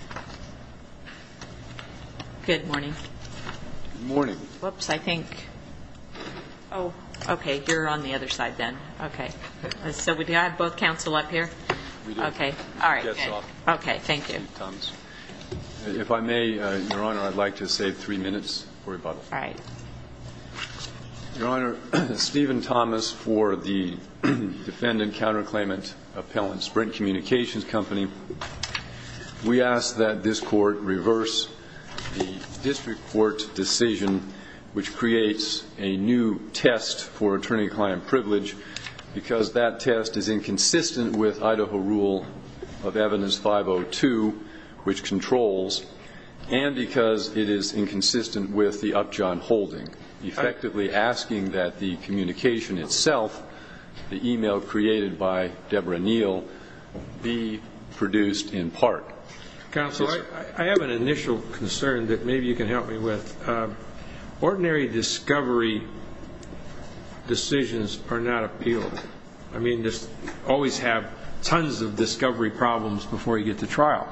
Steven Thomas for the Defendant Counterclaim and Appellant Sprint Communications Company. We ask that this Court reverse the District Court decision which creates a new test for attorney-client privilege because that test is inconsistent with Idaho Rule of Evidence 502, which controls, and because it is inconsistent with the Upjohn holding, effectively asking that the communication itself, the e-mail created by Deborah Neal, be produced in part. Counsel, I have an initial concern that maybe you can help me with. Ordinary discovery decisions are not appealable. I mean, you always have tons of discovery problems before you get to trial.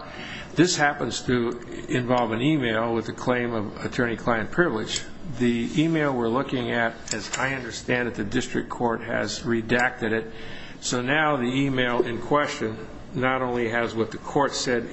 This happens to involve an e-mail with a claim of attorney-client privilege. And the e-mail we're looking at, as I understand it, the District Court has redacted it. So now the e-mail in question not only has what the Court said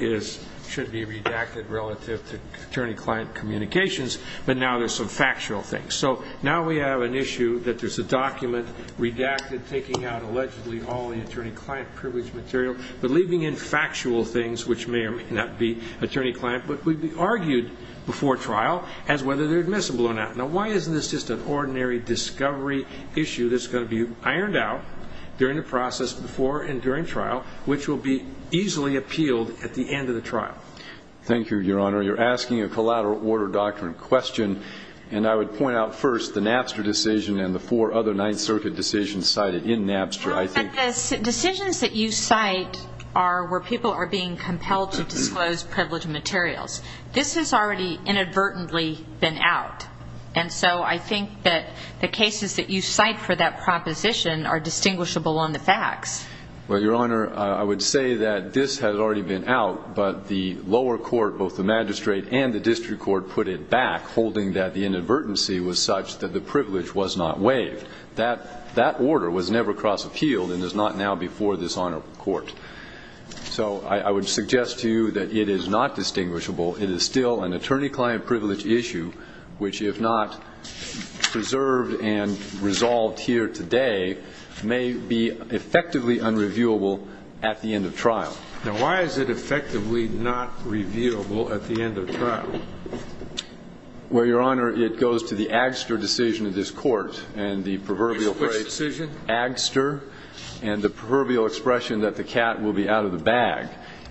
should be redacted relative to attorney-client communications, but now there's some factual things. So now we have an issue that there's a document redacted, taking out allegedly all the attorney-client privilege material, but leaving in factual things, which may or may not be attorney-client, but would be argued before trial as whether they're admissible or not. Now, why isn't this just an ordinary discovery issue that's going to be ironed out during the process before and during trial, which will be easily appealed at the end of the trial? Thank you, Your Honor. You're asking a collateral order doctrine question, and I would point out first the Napster decision and the four other Ninth Circuit decisions cited in Napster, I think. But the decisions that you cite are where people are being compelled to disclose privilege materials. This has already inadvertently been out. And so I think that the cases that you cite for that proposition are distinguishable on the facts. Well, Your Honor, I would say that this has already been out, but the lower court, both the magistrate and the District Court, put it back, holding that the inadvertency was such that the privilege was not waived. That order was never cross-appealed and is not now before this honorable court. So I would suggest to you that it is not distinguishable. It is still an attorney-client privilege issue, which, if not preserved and resolved here today, may be effectively unreviewable at the end of trial. Now, why is it effectively not reviewable at the end of trial? Well, Your Honor, it goes to the Agster decision of this court and the proverbial phrase Which decision? Agster and the proverbial expression that the cat will be out of the bag.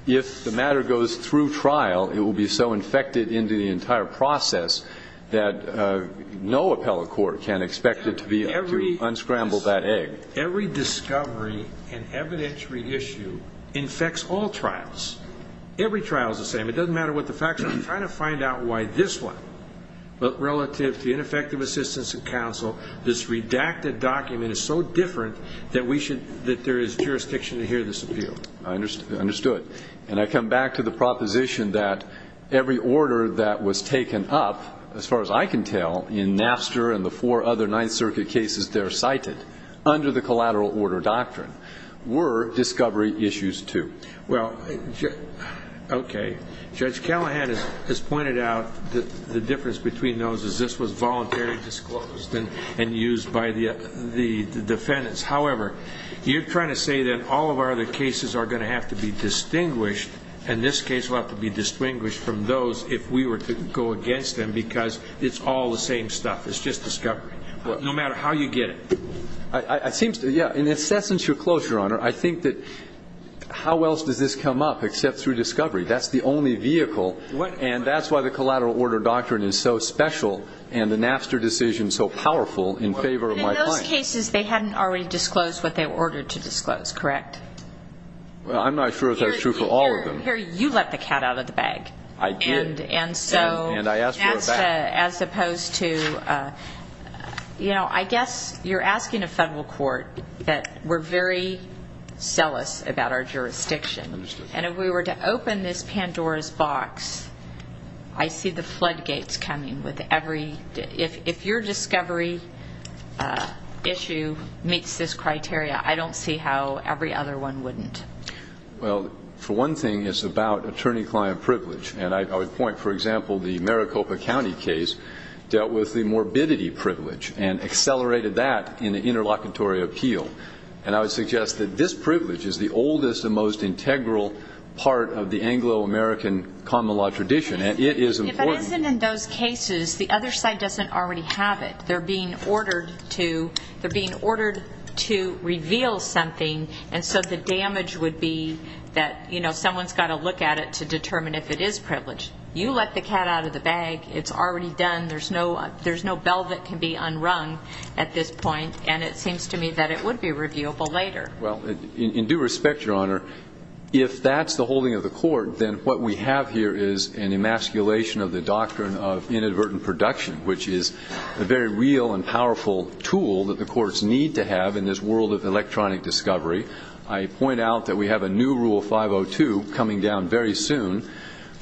If the matter goes through trial, it will be so infected into the entire process that no appellate court can expect it to be able to unscramble that egg. Every discovery and evidentiary issue infects all trials. Every trial is the same. It doesn't matter what the facts are. I'm trying to find out why this one, relative to ineffective assistance and counsel, this redacted document is so different that we should, that there is jurisdiction to hear this appeal. I understood. And I come back to the proposition that every order that was taken up, as far as I can tell, in Napster and the four other Ninth Circuit cases there cited, under the collateral order doctrine, were discovery issues too. Well, okay. Judge Callahan has pointed out that the difference between those is this was voluntarily disclosed and used by the defendants. However, you're trying to say that all of our other cases are going to have to be distinguished, and this case will have to be distinguished from those if we were to go against them because it's all the same stuff. It's just discovery. No matter how you get it. I seem to, yeah, in the incessant reclosure, Your Honor, I think that how else does this come up except through discovery? That's the only vehicle. And that's why the collateral order doctrine is so special and the Napster decision so powerful in favor of my client. In those cases, they hadn't already disclosed what they were ordered to disclose, correct? Well, I'm not sure if that's true for all of them. Here, you let the cat out of the bag. I did. And I asked for a bag. As opposed to, you know, I guess you're asking a Federal court that we're very zealous about our jurisdiction. And if we were to open this Pandora's box, I see the floodgates coming with every, if your discovery issue meets this criteria, I don't see how every other one wouldn't. Well, for one thing, it's about attorney-client privilege. And I would point, for example, the Maricopa County case dealt with the morbidity privilege and accelerated that in the interlocutory appeal. And I would suggest that this privilege is the oldest and most integral part of the Anglo-American common law tradition. And it is important. If it isn't in those cases, the other side doesn't already have it. They're being ordered to reveal something. And so the damage would be that, you know, someone's got to look at it to determine if it is privileged. You let the cat out of the bag. It's already done. There's no bell that can be unrung at this point. And it seems to me that it would be reviewable later. Well, in due respect, Your Honor, if that's the holding of the court, then what we have here is an emasculation of the doctrine of inadvertent production, which is a very real and powerful tool that the courts need to have in this world of electronic discovery. I point out that we have a new Rule 502 coming down very soon,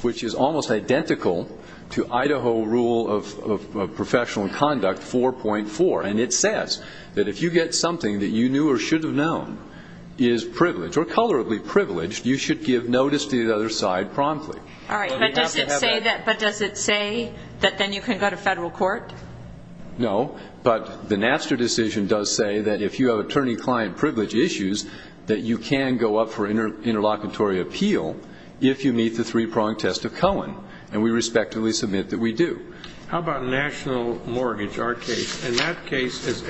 which is almost identical to Idaho Rule of Professional Conduct 4.4. And it says that if you get something that you knew or should have known is privileged, or colorably privileged, you should give notice to the other side promptly. All right. But does it say that then you can go to federal court? No. But the Napster decision does say that if you have attorney-client privilege issues, that you can go up for interlocutory appeal if you meet the three-prong test of Cohen. And we respectfully submit that we do. How about national mortgage, our case? In that case,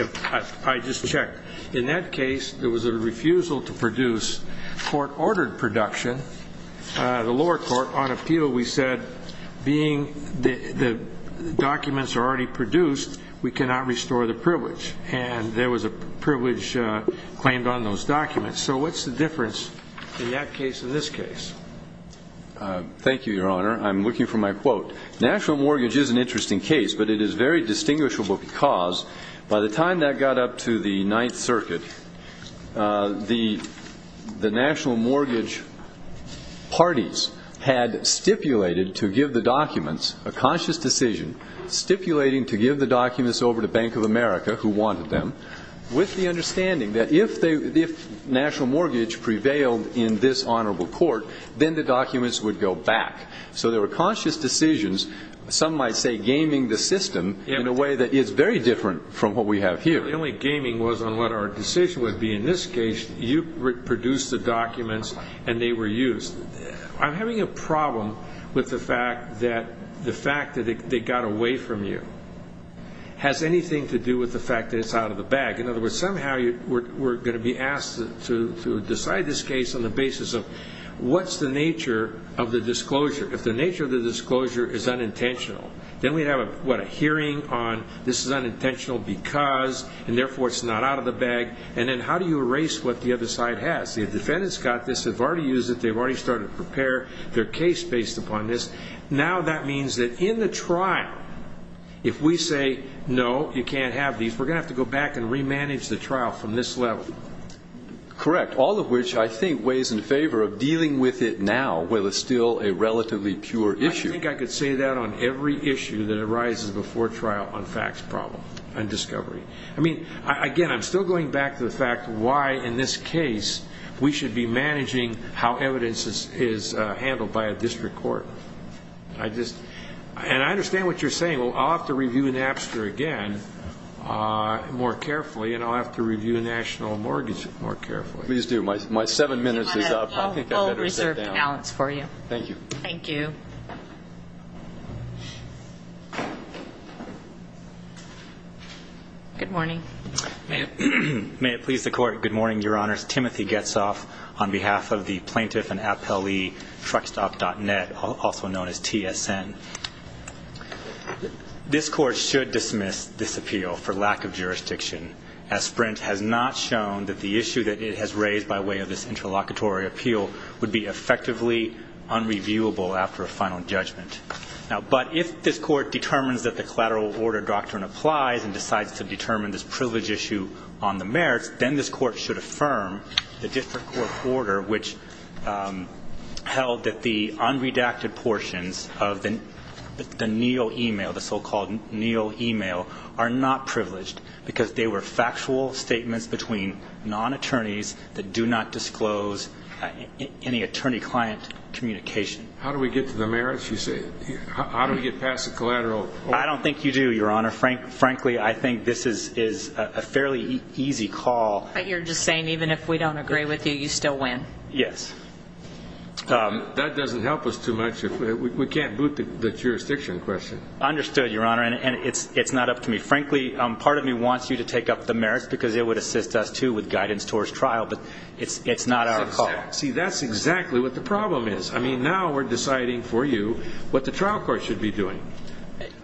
I just checked, in that case, there was a refusal to produce court-ordered production. The lower court, on appeal, we said, being the documents are already produced, we cannot restore the privilege. And there was a privilege claimed on those documents. So what's the difference in that case and this case? Thank you, Your Honor. I'm looking for my quote. National mortgage is an interesting case, but it is very distinguishable because by the time that got up to the Ninth Circuit, the national mortgage parties had stipulated to give the documents, a conscious decision, stipulating to give the documents over to Bank of America, who wanted them, with the documents would go back. So there were conscious decisions. Some might say gaming the system in a way that is very different from what we have here. The only gaming was on what our decision would be. In this case, you produced the documents and they were used. I'm having a problem with the fact that the fact that they got away from you has anything to do with the fact that it's out of the bag. In other words, somehow we're going to be asked to decide this case on the basis of what's the nature of the disclosure. If the nature of the disclosure is unintentional, then we have a hearing on this is unintentional because, and therefore it's not out of the bag. And then how do you erase what the other side has? The defendants got this, they've already used it, they've already started to prepare their case based upon this. Now that means that in the trial, if we say, no, you can't have these, we're going to have to go back and remanage the trial from this level. Correct. All of which I think weighs in favor of dealing with it now, while it's still a relatively pure issue. I think I could say that on every issue that arises before trial on facts problem and discovery. I mean, again, I'm still going back to the fact why in this case we should be managing how evidence is handled by a district court. I just, and I understand what you're saying. I'll have to review Napster again more carefully, and I'll have to review a national mortgage more carefully. Please do. My seven minutes is up. I think I better sit down. Thank you. Thank you. Good morning. May it please the court, good morning, your honors. Timothy Getzoff on behalf of the plaintiff and appellee, truckstop.net, also known as TSN. This court should dismiss this appeal for lack of jurisdiction, as Sprint has not shown that the issue that it has raised by way of this interlocutory appeal would be effectively unreviewable after a final judgment. But if this court determines that the collateral order doctrine applies and decides to determine this privilege issue on the merits, then this court should affirm the district court order, which held that the unredacted portions of the Neil email, the so-called Neil email, are not privileged because they were factual statements between non-attorneys that do not disclose any attorney-client communication. How do we get to the merits, you say? How do we get past the collateral? I don't think you do, your honor. Frankly, I think this is a fairly easy call. But you're just saying even if we don't agree with you, you still win. Yes. That doesn't help us too much. We can't boot the jurisdiction question. Understood, your honor. And it's not up to me. Frankly, part of me wants you to take up the merits because it would assist us too with guidance towards trial, but it's not our call. See, that's exactly what the problem is. I mean, now we're deciding for you what the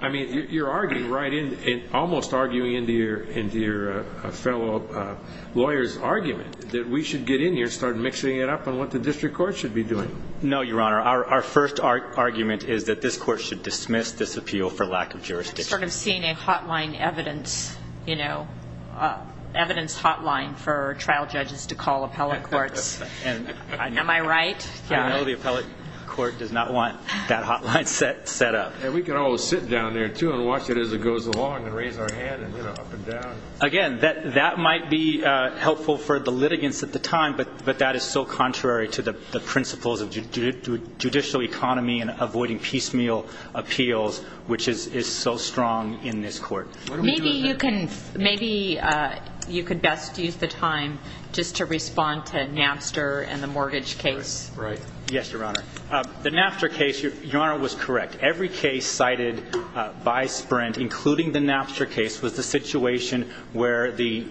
I mean, you're arguing right in, almost arguing into your fellow lawyer's argument that we should get in here and start mixing it up on what the district court should be doing. No, your honor. Our first argument is that this court should dismiss this appeal for lack of jurisdiction. I've sort of seen a hotline evidence, you know, evidence hotline for trial judges to call appellate courts. Am I right? I know the appellate court does not want that hotline set up. And we can all sit down there too and watch it as it goes along and raise our hand and, you know, up and down. Again, that might be helpful for the litigants at the time, but that is so contrary to the principles of judicial economy and avoiding piecemeal appeals, which is so strong in this court. Maybe you can best use the time just to respond to Napster and the mortgage case. Right. Yes, your honor. The Napster case, your honor, was correct. Every case cited by Sprint, including the Napster case, was the situation where the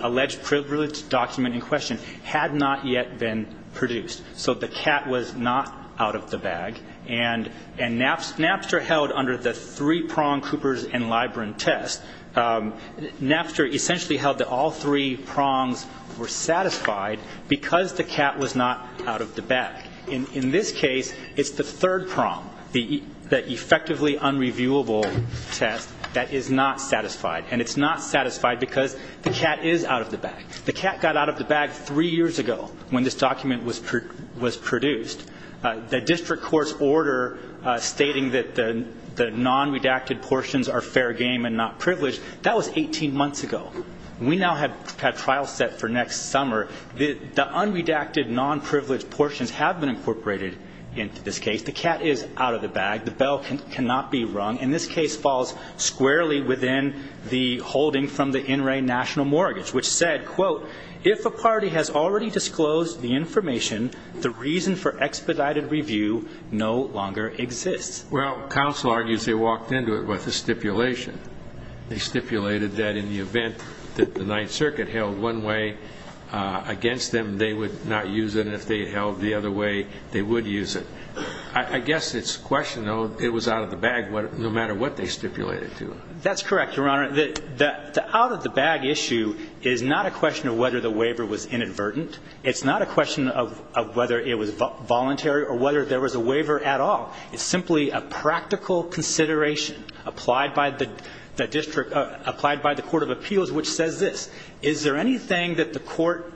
alleged privilege document in question had not yet been produced. So the cat was not out of the bag. And Napster held under the three-prong Cooper's and Libren test, Napster essentially held that all three prongs were satisfied because the cat was not out of the bag. In this case, it's the third prong, the effectively unreviewable test, that is not satisfied. And it's not satisfied because the cat is out of the bag. The cat got out of the bag three years ago when this document was produced. The district court's order stating that the non-redacted portions are fair game and not privileged, that was 18 months ago. We now have trial set for next summer. The unredacted, non-privileged portions have been incorporated into this case. The cat is out of the bag. The bell cannot be rung. And this case falls squarely within the holding from the NRA national mortgage, which said, quote, if a party has already disclosed the information, the reason for expedited review no longer exists. Well, counsel argues they walked into it with a stipulation. They stipulated that in the event that the Ninth Circuit held one way against them, they would not use it, and if they held the other way, they would use it. I guess it's a question, though, it was out of the bag no matter what they stipulated to. That's correct, Your Honor. The out of the bag issue is not a question of whether the waiver was inadvertent. It's not a question of whether it was voluntary or whether there was a waiver at all. It's simply a practical consideration applied by the district, applied by the Court of Appeals, which says this. Is there anything that the court,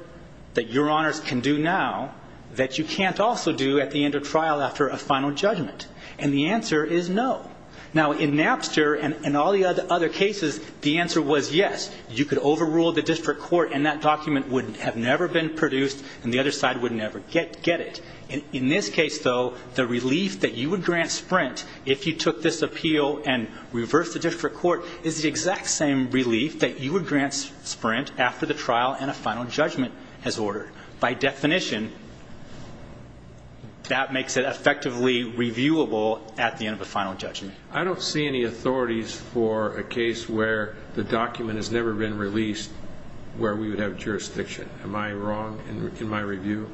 that Your Honors can do now, that you can't also do at the end of trial after a final judgment? And the answer is no. Now, in Napster and all the other cases, the answer was yes. You could overrule the district court and that document would have never been produced and the other side would never get it. In this case, though, the relief that you would grant Sprint if you took this appeal and reversed the district court is the exact same relief that you would grant Sprint after the trial and a final judgment as ordered. By definition, that makes it effectively reviewable at the end of a final judgment. I don't see any authorities for a case where the document has never been released where we would have jurisdiction. Am I wrong in my review?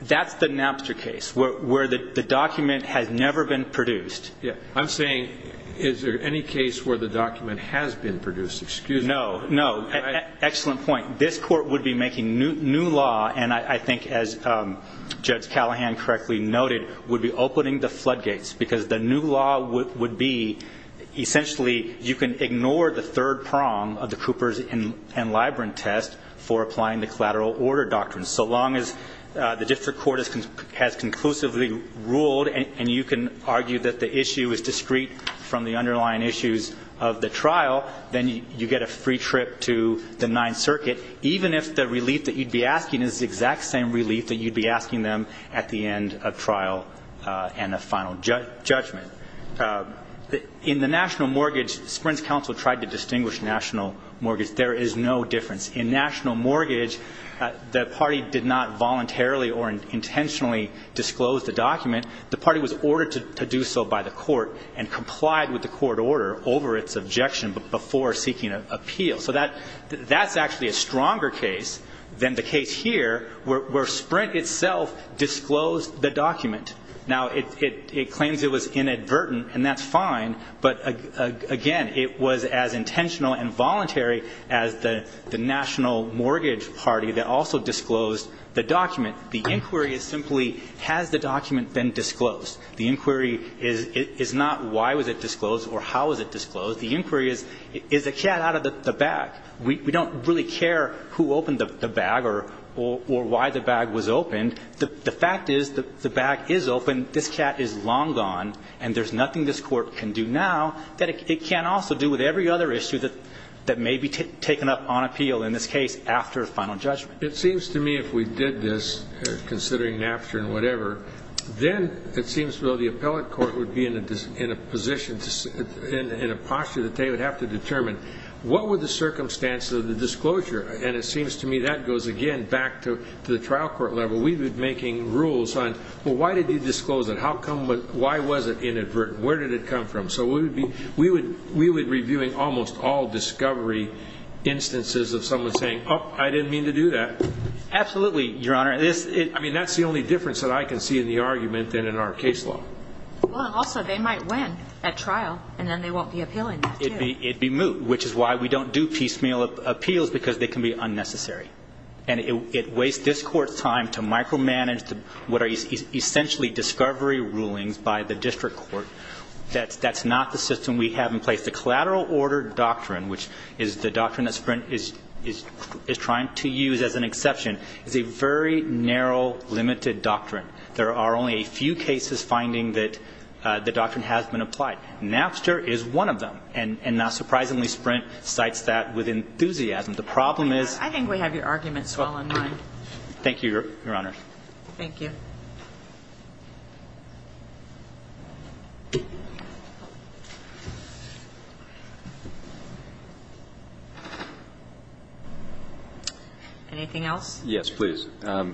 That's the Napster case where the document has never been produced. Yeah, I'm saying, is there any case where the document has been produced? Excuse me. No, no, excellent point. This court would be making new law, and I think as Judge Callahan correctly noted, would be opening the floodgates because the new law would be, essentially, you can ignore the third prong of the Cooper's and Libran test for applying the collateral order doctrine, so long as the district court has conclusively ruled and you can argue that the issue is discreet from the underlying issues of the trial, then you get a free trip to the Ninth Circuit, even if the relief that you'd be asking is the exact same relief that you'd be asking them at the end of trial and a final judgment. In the national mortgage, Sprint's counsel tried to distinguish national mortgage. There is no difference. In national mortgage, the party did not voluntarily or intentionally disclose the document. The party was ordered to do so by the court and complied with the court order over its objection before seeking an appeal. So that's actually a stronger case than the case here where Sprint itself disclosed the document. Now, it claims it was inadvertent, and that's fine. But again, it was as intentional and voluntary as the national mortgage party that also disclosed the document. The inquiry is simply, has the document been disclosed? The inquiry is not why was it disclosed or how was it disclosed? The inquiry is, is the cat out of the bag? We don't really care who opened the bag or why the bag was opened. The fact is that the bag is open, this cat is long gone, and there's nothing this court can do now that it can't also do with every other issue that may be taken up on appeal, in this case, after a final judgment. It seems to me if we did this, considering Napster and whatever, then it seems though the appellate court would be in a position, in a posture that they would have to determine what were the circumstances of the disclosure. And it seems to me that goes again back to the trial court level. We've been making rules on, well, why did they disclose it? How come, why was it inadvertent? Where did it come from? So we would be reviewing almost all discovery instances of someone saying, I didn't mean to do that. Absolutely, your honor. I mean, that's the only difference that I can see in the argument than in our case law. Well, and also they might win at trial, and then they won't be appealing that too. It'd be moot, which is why we don't do piecemeal appeals, because they can be unnecessary. And it wastes this Court's time to micromanage what are essentially discovery rulings by the district court. That's not the system we have in place. The collateral order doctrine, which is the doctrine that Sprint is trying to use as an exception, is a very narrow, limited doctrine. There are only a few cases finding that the doctrine has been applied. Napster is one of them. And not surprisingly, Sprint cites that with enthusiasm. The problem is- I think we have your arguments all in line. Thank you, your honor. Thank you. Anything else? Yes, please. I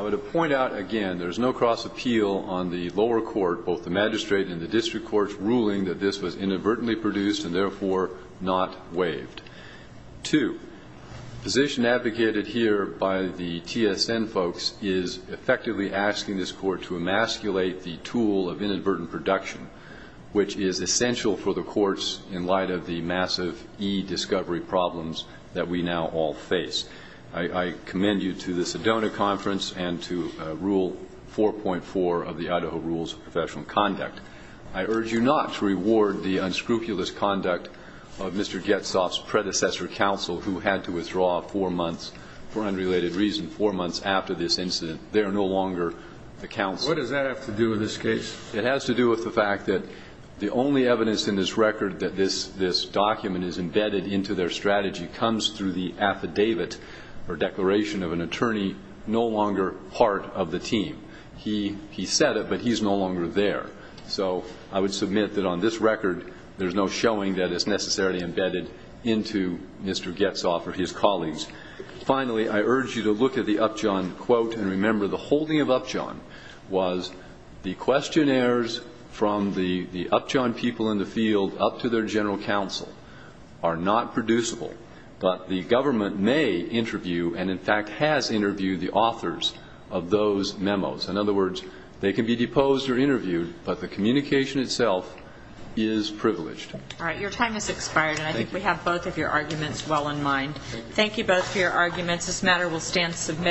would point out again, there's no cross appeal on the lower court, both the magistrate and the district court's ruling that this was inadvertently produced and therefore not waived. Two, the position advocated here by the TSN folks is effectively asking this court to emasculate the tool of inadvertent production, which is essential for the courts in light of the massive e-discovery problems that we now all face. I commend you to the Sedona Conference and to Rule 4.4 of the Idaho Rules of Professional Conduct. I urge you not to reward the unscrupulous conduct of Mr. Getzoff's predecessor counsel, who had to withdraw four months for unrelated reason, four months after this incident. They are no longer the counsel. What does that have to do with this case? It has to do with the fact that the only evidence in this record that this document is embedded into their strategy comes through the affidavit or declaration of an attorney no longer part of the team. He said it, but he's no longer there. So I would submit that on this record, there's no showing that it's necessarily embedded into Mr. Getzoff or his colleagues. Finally, I urge you to look at the Upjohn quote and remember the holding of Upjohn was the questionnaires from the Upjohn people in the field up to their general counsel are not producible, but the government may interview and, in fact, has interviewed the authors of those memos. In other words, they can be deposed or interviewed, but the communication itself is privileged. All right, your time has expired, and I think we have both of your arguments well in mind. Thank you both for your arguments. This matter will stand submitted.